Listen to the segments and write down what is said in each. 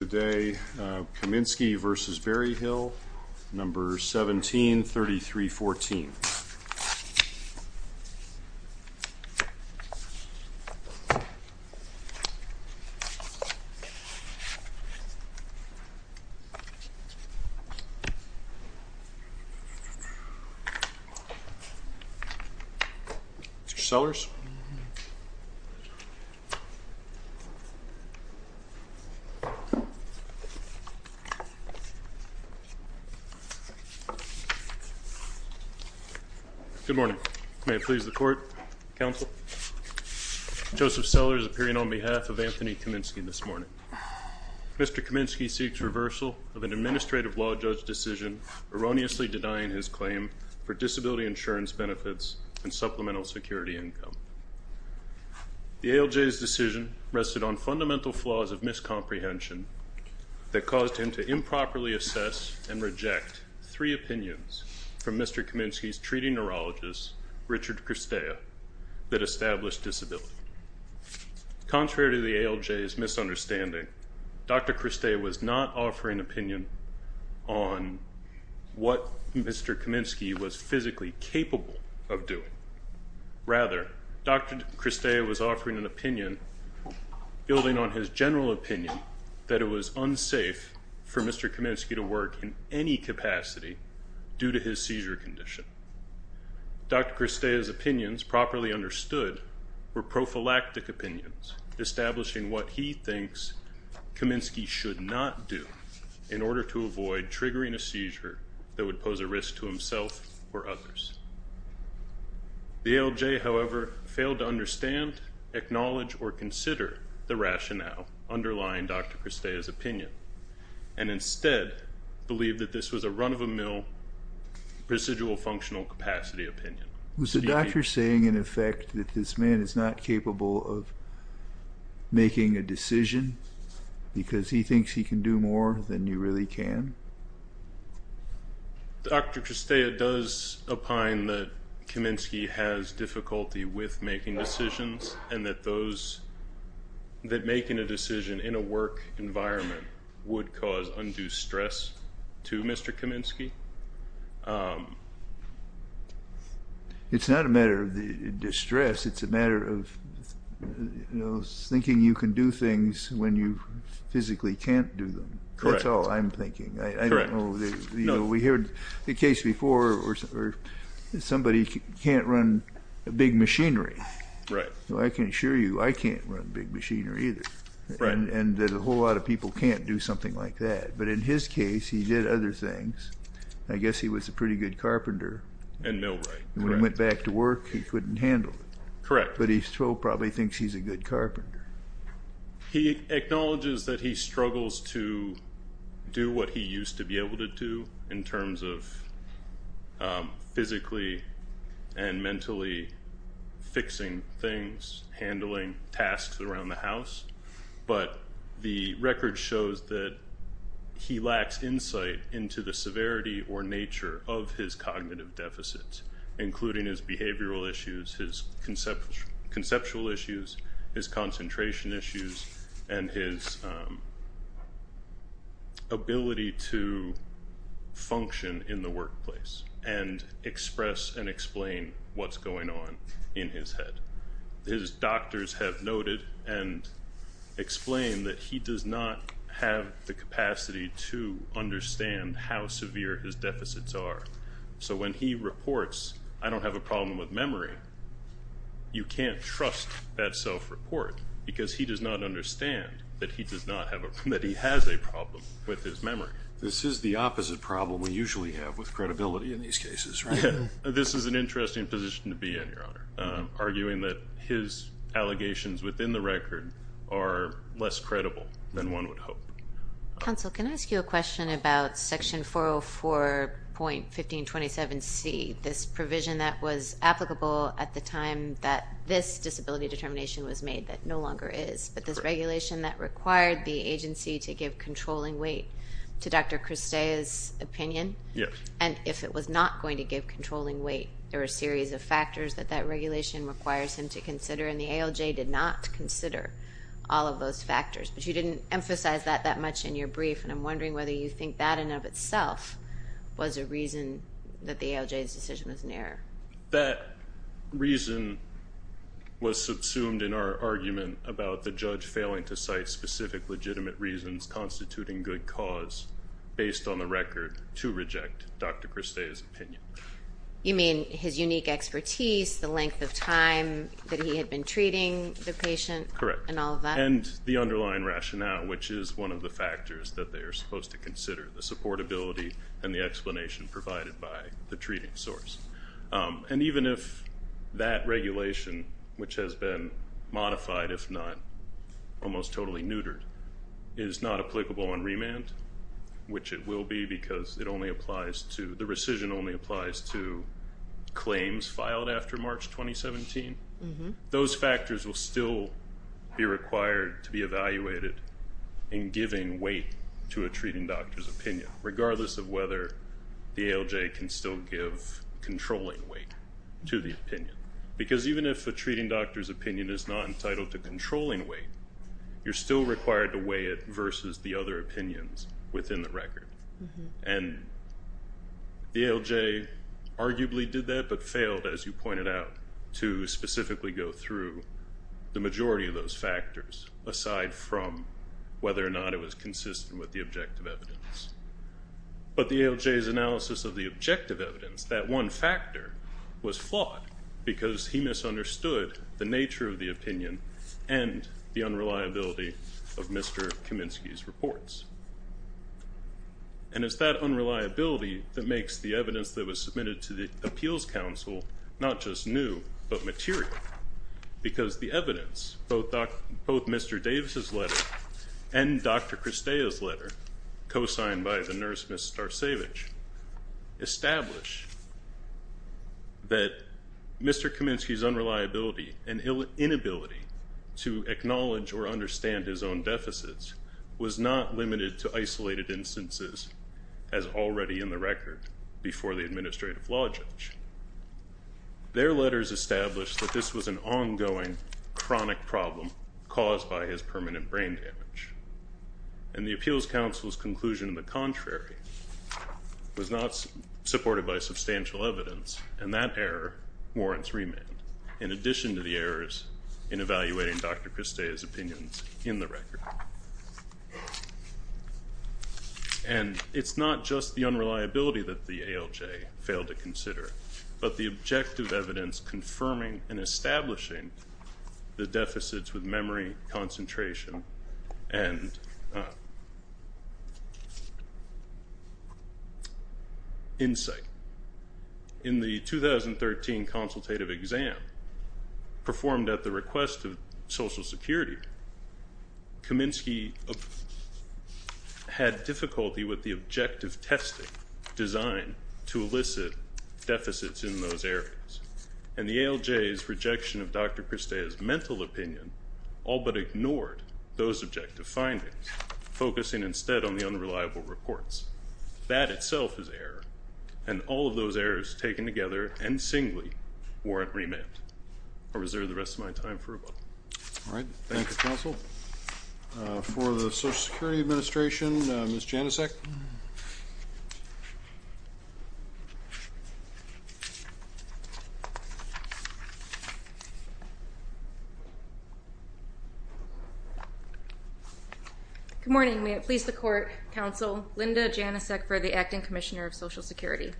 Today, Kaminski v. Berryhill, number 173314. Mr. Sellers. Good morning. May it please the court, counsel. Joseph Sellers appearing on behalf of Anthony Kaminski this morning. Mr. Kaminski seeks reversal of an administrative law judge decision erroneously denying his claim for disability insurance benefits and supplemental security income. The ALJ's decision rested on fundamental flaws of miscomprehension that caused him to improperly assess and reject three opinions from Mr. Kaminski's treating neurologist, Richard Kristea, that established disability. Contrary to the ALJ's misunderstanding, Dr. Kristea was not offering an opinion on what Mr. Kaminski was physically capable of doing. Rather, Dr. Kristea was offering an opinion building on his general opinion that it was unsafe for Mr. Kaminski to work in any capacity due to his seizure condition. Dr. Kristea's opinions, properly understood, were prophylactic opinions, establishing what he thinks Kaminski should not do in order to avoid triggering a seizure that would pose a risk to himself or others. The ALJ, however, failed to understand, acknowledge, or consider the rationale underlying Dr. Kristea's opinion, and instead believed that this was a run-of-a-mill, procedural functional capacity opinion. Was the doctor saying, in effect, that this man is not capable of making a decision because he thinks he can do more than you really can? Dr. Kristea does opine that Kaminski has difficulty with making decisions and that making a decision in a work environment would cause undue stress to Mr. Kaminski. It's not a matter of distress. It's a matter of thinking you can do things when you physically can't do them. That's all I'm thinking. We heard the case before where somebody can't run big machinery. I can assure you I can't run big machinery either, and that a whole lot of people can't do something like that. But in his case, he did other things. I guess he was a pretty good carpenter. And millwright. When he went back to work, he couldn't handle it. Correct. But he still probably thinks he's a good carpenter. He acknowledges that he struggles to do what he used to be able to do in terms of physically and mentally fixing things, handling tasks around the house. But the record shows that he lacks insight into the severity or nature of his cognitive deficits, including his behavioral issues, his conceptual issues, his concentration issues, and his ability to function in the workplace and express and explain what's going on in his head. His doctors have noted and explained that he does not have the capacity to understand how severe his deficits are. So when he reports, I don't have a problem with memory, you can't trust that self-report because he does not understand that he has a problem with his memory. This is the opposite problem we usually have with credibility in these cases, right? This is an interesting position to be in, Your Honor. Arguing that his allegations within the record are less credible than one would hope. Counsel, can I ask you a question about section 404.1527C, this provision that was applicable at the time that this disability determination was made that no longer is, but this regulation that required the agency to give controlling weight to Dr. Kristea's opinion? Yes. And if it was not going to give controlling weight, there were a series of factors that that regulation requires him to consider, and the ALJ did not consider all of those factors. But you didn't emphasize that that much in your brief, and I'm wondering whether you think that in and of itself was a reason that the ALJ's decision was an error. That reason was subsumed in our argument about the judge failing to cite specific legitimate reasons constituting good cause based on the record to reject Dr. Kristea's opinion. You mean his unique expertise, the length of time that he had been treating the patient, and all of that? Correct, and the underlying rationale, which is one of the factors that they are supposed to consider, the supportability and the explanation provided by the treating source. And even if that regulation, which has been modified, if not almost totally neutered, is not applicable on remand, which it will be because it only applies to, the rescission only applies to claims filed after March 2017, those factors will still be required to be evaluated in giving weight to a treating doctor's opinion, regardless of whether the ALJ can still give controlling weight to the opinion. Because even if a treating doctor's opinion is not entitled to controlling weight, you're still required to weigh it versus the other opinions within the record. And the ALJ arguably did that, but failed, as you pointed out, to specifically go through the majority of those factors, aside from whether or not it was consistent with the objective evidence. But the ALJ's analysis of the objective evidence, that one factor, was flawed because he misunderstood the nature of the opinion and the unreliability of Mr. Kaminsky's reports. And it's that unreliability that makes the evidence that was submitted to the Appeals Council not just new, but material. Because the evidence, both Mr. Davis' letter and Dr. Kristea's letter, co-signed by the nurse, Ms. Starcevich, establish that Mr. Kaminsky's unreliability and inability to acknowledge or understand his own deficits was not limited to isolated instances, as already in the record, before the administrative law judge. Their letters established that this was an ongoing chronic problem caused by his permanent brain damage. And the Appeals Council's conclusion of the contrary was not supported by substantial evidence, and that error warrants remand, in addition to the errors in evaluating Dr. Kristea's opinions in the record. And it's not just the unreliability that the ALJ failed to consider, but the objective evidence confirming and establishing the deficits with memory, concentration, and insight. In the 2013 consultative exam, performed at the request of Social Security, Kaminsky had difficulty with the objective testing designed to elicit deficits in those areas. And the ALJ's rejection of Dr. Kristea's mental opinion all but ignored those objective findings, focusing instead on the unreliable reports. That itself is error, and all of those errors taken together, and singly, warrant remand. I'll reserve the rest of my time for rebuttal. All right. Thank you, Counsel. For the Social Security Administration, Ms. Janicek. Good morning. May it please the Court, Counsel Linda Janicek for the Acting Commissioner of Social Security.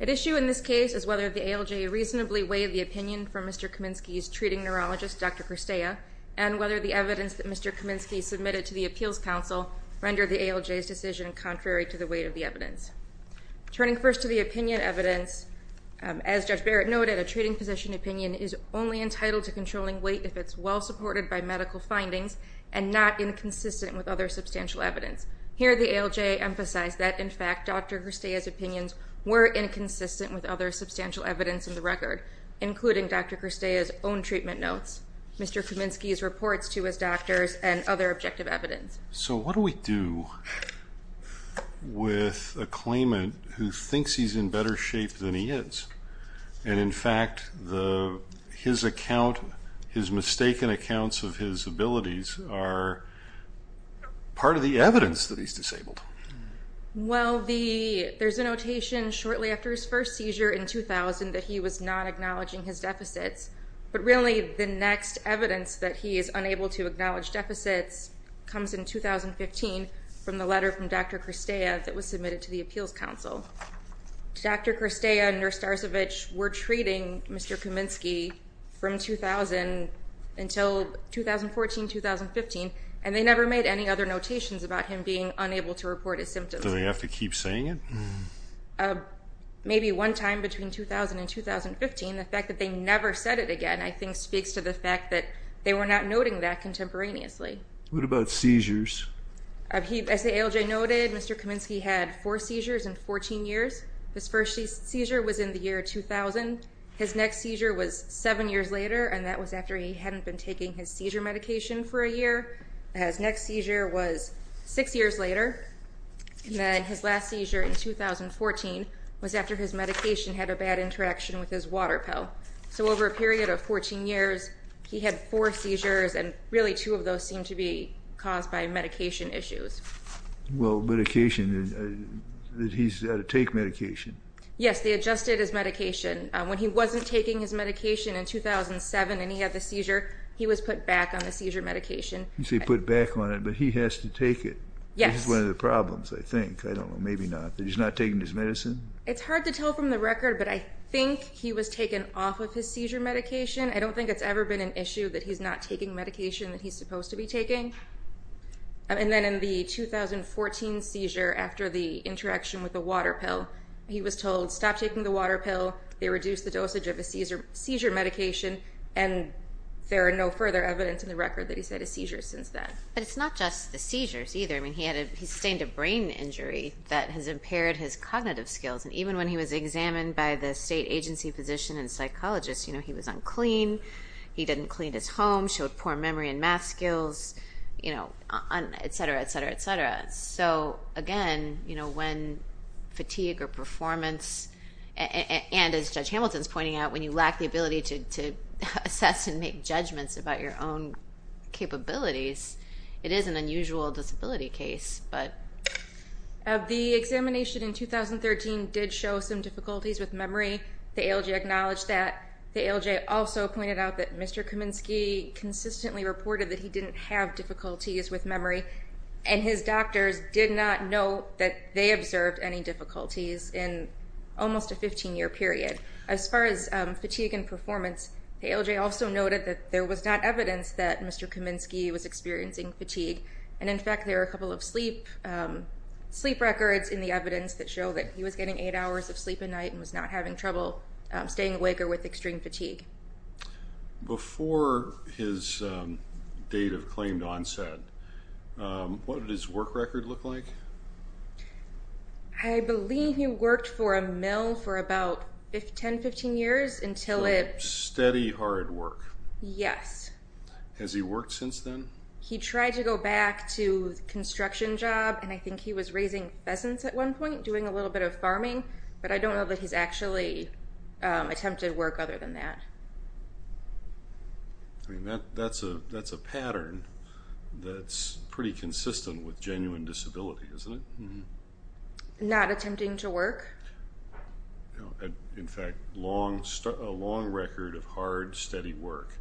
At issue in this case is whether the ALJ reasonably weighed the opinion from Mr. Kaminsky's treating neurologist, Dr. Kristea, and whether the evidence that Mr. Kaminsky submitted to the Appeals Council rendered the ALJ's decision contrary. Contrary to the weight of the evidence. Turning first to the opinion evidence, as Judge Barrett noted, a treating physician opinion is only entitled to controlling weight if it's well supported by medical findings, and not inconsistent with other substantial evidence. Here, the ALJ emphasized that, in fact, Dr. Kristea's opinions were inconsistent with other substantial evidence in the record, including Dr. Kristea's own treatment notes, Mr. Kaminsky's reports to his doctors, and other objective evidence. So what do we do with a claimant who thinks he's in better shape than he is, and, in fact, his mistaken accounts of his abilities are part of the evidence that he's disabled? Well, there's a notation shortly after his first seizure in 2000 that he was not acknowledging his deficits, but really the next evidence that he is unable to acknowledge deficits comes in 2015 from the letter from Dr. Kristea that was submitted to the Appeals Council. Dr. Kristea and Nurse Darcevich were treating Mr. Kaminsky from 2000 until 2014, 2015, and they never made any other notations about him being unable to report his symptoms. Do they have to keep saying it? Maybe one time between 2000 and 2015. The fact that they never said it again, I think, speaks to the fact that they were not noting that contemporaneously. What about seizures? As the ALJ noted, Mr. Kaminsky had four seizures in 14 years. His first seizure was in the year 2000. His next seizure was seven years later, and that was after he hadn't been taking his seizure medication for a year. His next seizure was six years later. And then his last seizure in 2014 was after his medication had a bad interaction with his water pill. So over a period of 14 years, he had four seizures, and really two of those seemed to be caused by medication issues. Well, medication, he's had to take medication. Yes, they adjusted his medication. When he wasn't taking his medication in 2007 and he had the seizure, he was put back on the seizure medication. You say put back on it, but he has to take it. Yes. This is one of the problems, I think. I don't know. Maybe not. That he's not taking his medicine? It's hard to tell from the record, but I think he was taken off of his seizure medication. I don't think it's ever been an issue that he's not taking medication that he's supposed to be taking. And then in the 2014 seizure, after the interaction with the water pill, he was told stop taking the water pill. They reduced the dosage of his seizure medication, and there are no further evidence in the record that he's had a seizure since then. But it's not just the seizures either. He sustained a brain injury that has impaired his cognitive skills. And even when he was examined by the state agency physician and psychologist, he was unclean. He didn't clean his home, showed poor memory and math skills, et cetera, et cetera, et cetera. So, again, when fatigue or performance, and as Judge Hamilton is pointing out, when you lack the ability to assess and make judgments about your own capabilities, it is an unusual disability case. The examination in 2013 did show some difficulties with memory. The ALJ acknowledged that. The ALJ also pointed out that Mr. Kaminsky consistently reported that he didn't have difficulties with memory. And his doctors did not note that they observed any difficulties in almost a 15-year period. As far as fatigue and performance, the ALJ also noted that there was not evidence that Mr. Kaminsky was experiencing fatigue. And, in fact, there are a couple of sleep records in the evidence that show that he was getting eight hours of sleep a night and was not having trouble staying awake or with extreme fatigue. Before his date of claimed onset, what did his work record look like? I believe he worked for a mill for about 10, 15 years until it- So, steady, hard work. Yes. Has he worked since then? He tried to go back to the construction job, and I think he was raising pheasants at one point, doing a little bit of farming. But I don't know that he's actually attempted work other than that. I mean, that's a pattern that's pretty consistent with genuine disability, isn't it? Mm-hmm. Not attempting to work? No. In fact, a long record of hard, steady work.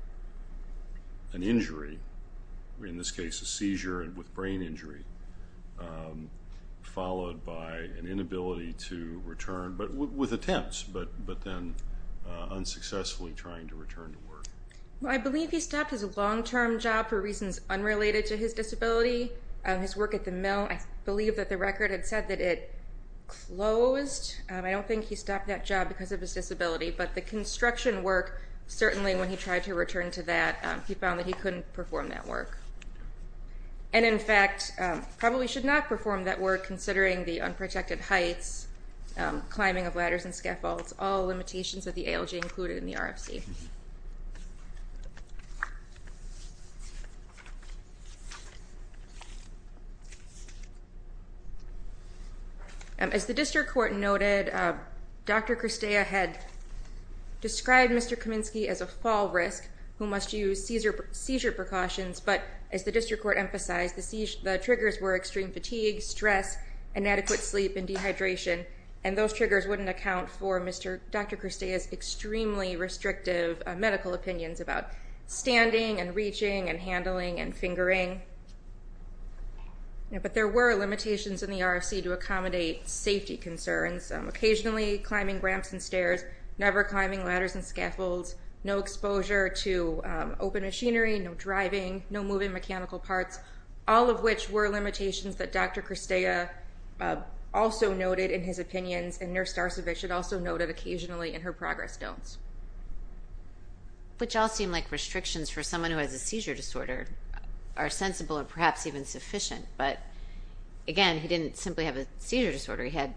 An injury, in this case a seizure with brain injury, followed by an inability to return, but with attempts, but then unsuccessfully trying to return to work. I believe he stopped his long-term job for reasons unrelated to his disability. His work at the mill, I believe that the record had said that it closed. I don't think he stopped that job because of his disability. But the construction work, certainly when he tried to return to that, he found that he couldn't perform that work. And, in fact, probably should not perform that work considering the unprotected heights, climbing of ladders and scaffolds, all limitations that the ALG included in the RFC. As the district court noted, Dr. Kristeia had described Mr. Kaminsky as a fall risk who must use seizure precautions. But as the district court emphasized, the triggers were extreme fatigue, stress, inadequate sleep and dehydration. And those triggers wouldn't account for Dr. Kristeia's extremely restrictive medical opinions about standing and reaching and handling and fingering. But there were limitations in the RFC to accommodate safety concerns. Occasionally climbing ramps and stairs, never climbing ladders and scaffolds, no exposure to open machinery, no driving, no moving mechanical parts. All of which were limitations that Dr. Kristeia also noted in his opinions and Nurse Darcevich had also noted occasionally in her progress notes. Which all seem like restrictions for someone who has a seizure disorder are sensible and perhaps even sufficient. But, again, he didn't simply have a seizure disorder. He had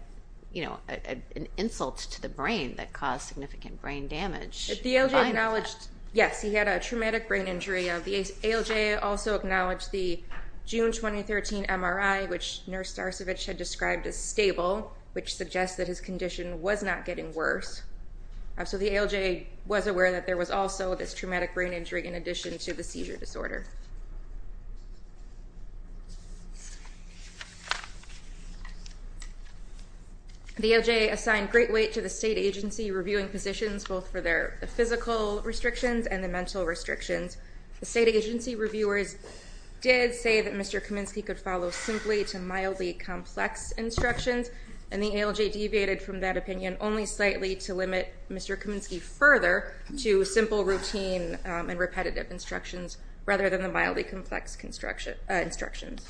an insult to the brain that caused significant brain damage. The ALG acknowledged, yes, he had a traumatic brain injury. The ALJ also acknowledged the June 2013 MRI, which Nurse Darcevich had described as stable, which suggests that his condition was not getting worse. So the ALJ was aware that there was also this traumatic brain injury in addition to the seizure disorder. The ALJ assigned great weight to the state agency reviewing positions both for their physical restrictions and the mental restrictions. The state agency reviewers did say that Mr. Kaminsky could follow simply to mildly complex instructions. And the ALJ deviated from that opinion only slightly to limit Mr. Kaminsky further to simple routine and repetitive instructions. Rather than the mildly complex instructions.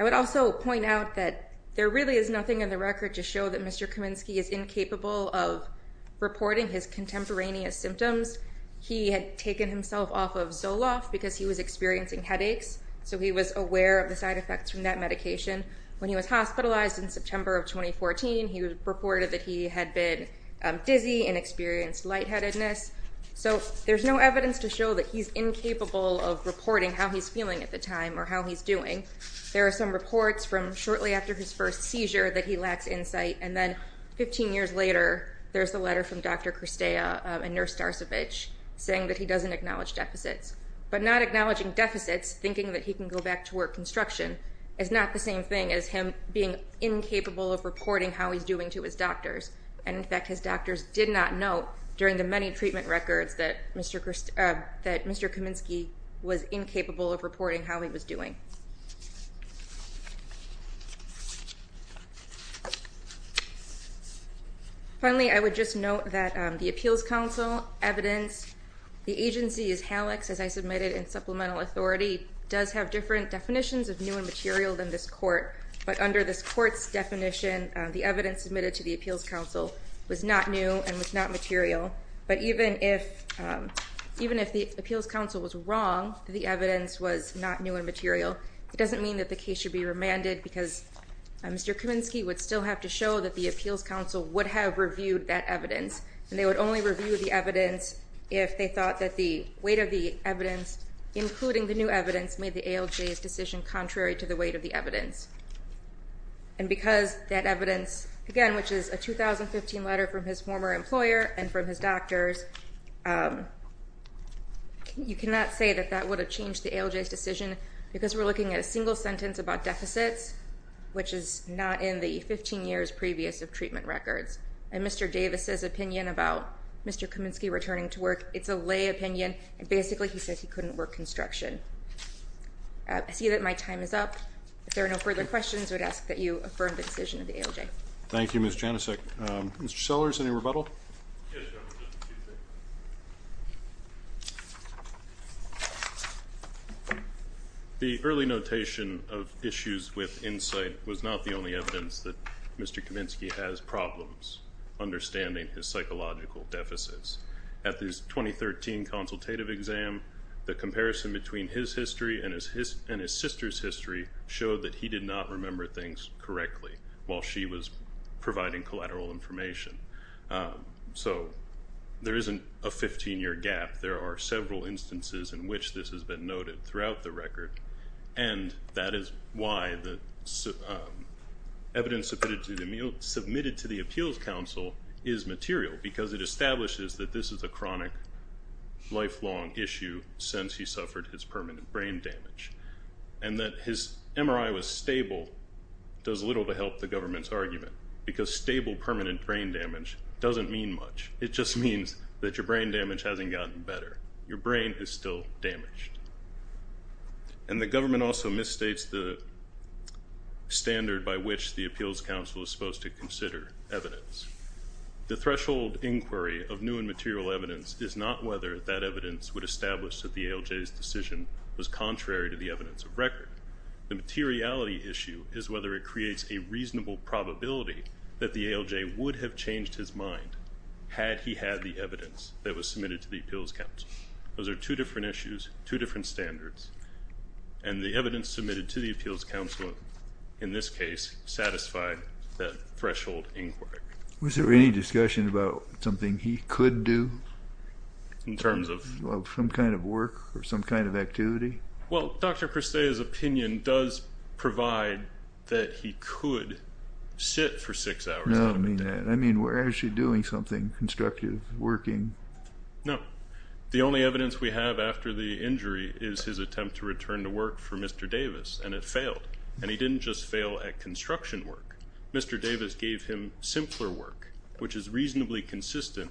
I would also point out that there really is nothing in the record to show that Mr. Kaminsky is incapable of reporting his contemporaneous symptoms. He had taken himself off of Zoloft because he was experiencing headaches. So he was aware of the side effects from that medication. When he was hospitalized in September of 2014, he reported that he had been dizzy and experienced lightheadedness. So there's no evidence to show that he's incapable of reporting how he's feeling at the time or how he's doing. There are some reports from shortly after his first seizure that he lacks insight. And then 15 years later, there's a letter from Dr. Kristea and Nurse Darcevich saying that he doesn't acknowledge deficits. But not acknowledging deficits, thinking that he can go back to work construction, is not the same thing as him being incapable of reporting how he's doing to his doctors. And, in fact, his doctors did not note during the many treatment records that Mr. Kaminsky was incapable of reporting how he was doing. Finally, I would just note that the Appeals Council evidence, the agency as HALACS, as I submitted in supplemental authority, does have different definitions of new and material than this court. But under this court's definition, the evidence submitted to the Appeals Council was not new and was not material. But even if the Appeals Council was wrong, the evidence was not new and material, it doesn't mean that the case should be remanded because Mr. Kaminsky would still have to show that the Appeals Council would have reviewed that evidence. And they would only review the evidence if they thought that the weight of the evidence, including the new evidence, made the ALJ's decision contrary to the weight of the evidence. And because that evidence, again, which is a 2015 letter from his former employer and from his doctors, you cannot say that that would have changed the ALJ's decision because we're looking at a single sentence about deficits, which is not in the 15 years previous of treatment records. And Mr. Davis's opinion about Mr. Kaminsky returning to work, it's a lay opinion, and basically he says he couldn't work construction. I see that my time is up. If there are no further questions, I would ask that you affirm the decision of the ALJ. Thank you, Ms. Janicek. Mr. Sellers, any rebuttal? The early notation of issues with insight was not the only evidence that Mr. Kaminsky has problems understanding his psychological deficits. At this 2013 consultative exam, the comparison between his history and his sister's history showed that he did not remember things correctly while she was providing collateral information. So there isn't a 15-year gap. There are several instances in which this has been noted throughout the record, and that is why the evidence submitted to the Appeals Council is material, because it establishes that this is a chronic, lifelong issue since he suffered his permanent brain damage. And that his MRI was stable does little to help the government's argument, because stable permanent brain damage doesn't mean much. It just means that your brain damage hasn't gotten better. Your brain is still damaged. And the government also misstates the standard by which the Appeals Council is supposed to consider evidence. The threshold inquiry of new and material evidence is not whether that evidence would establish that the ALJ's decision was contrary to the evidence of record. The materiality issue is whether it creates a reasonable probability that the ALJ would have changed his mind had he had the evidence that was submitted to the Appeals Council. Those are two different issues, two different standards, and the evidence submitted to the Appeals Council, in this case, satisfied that threshold inquiry. Was there any discussion about something he could do? In terms of? Well, some kind of work or some kind of activity? Well, Dr. Cristea's opinion does provide that he could sit for six hours. No, I don't mean that. I mean, where is she doing something constructive, working? No. The only evidence we have after the injury is his attempt to return to work for Mr. Davis, and it failed. And he didn't just fail at construction work. Mr. Davis gave him simpler work, which is reasonably consistent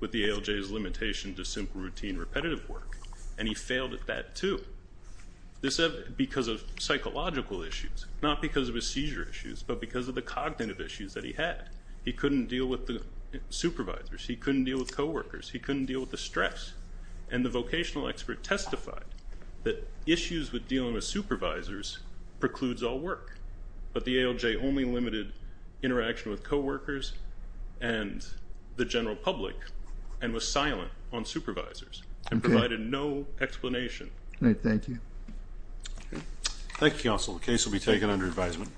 with the ALJ's limitation to simple routine repetitive work, and he failed at that, too, because of psychological issues, not because of his seizure issues, but because of the cognitive issues that he had. He couldn't deal with the supervisors. He couldn't deal with co-workers. He couldn't deal with the stress. And the vocational expert testified that issues with dealing with supervisors precludes all work, but the ALJ only limited interaction with co-workers and the general public, and was silent on supervisors and provided no explanation. All right. Thank you. Thank you, Counsel. The case will be taken under advisement.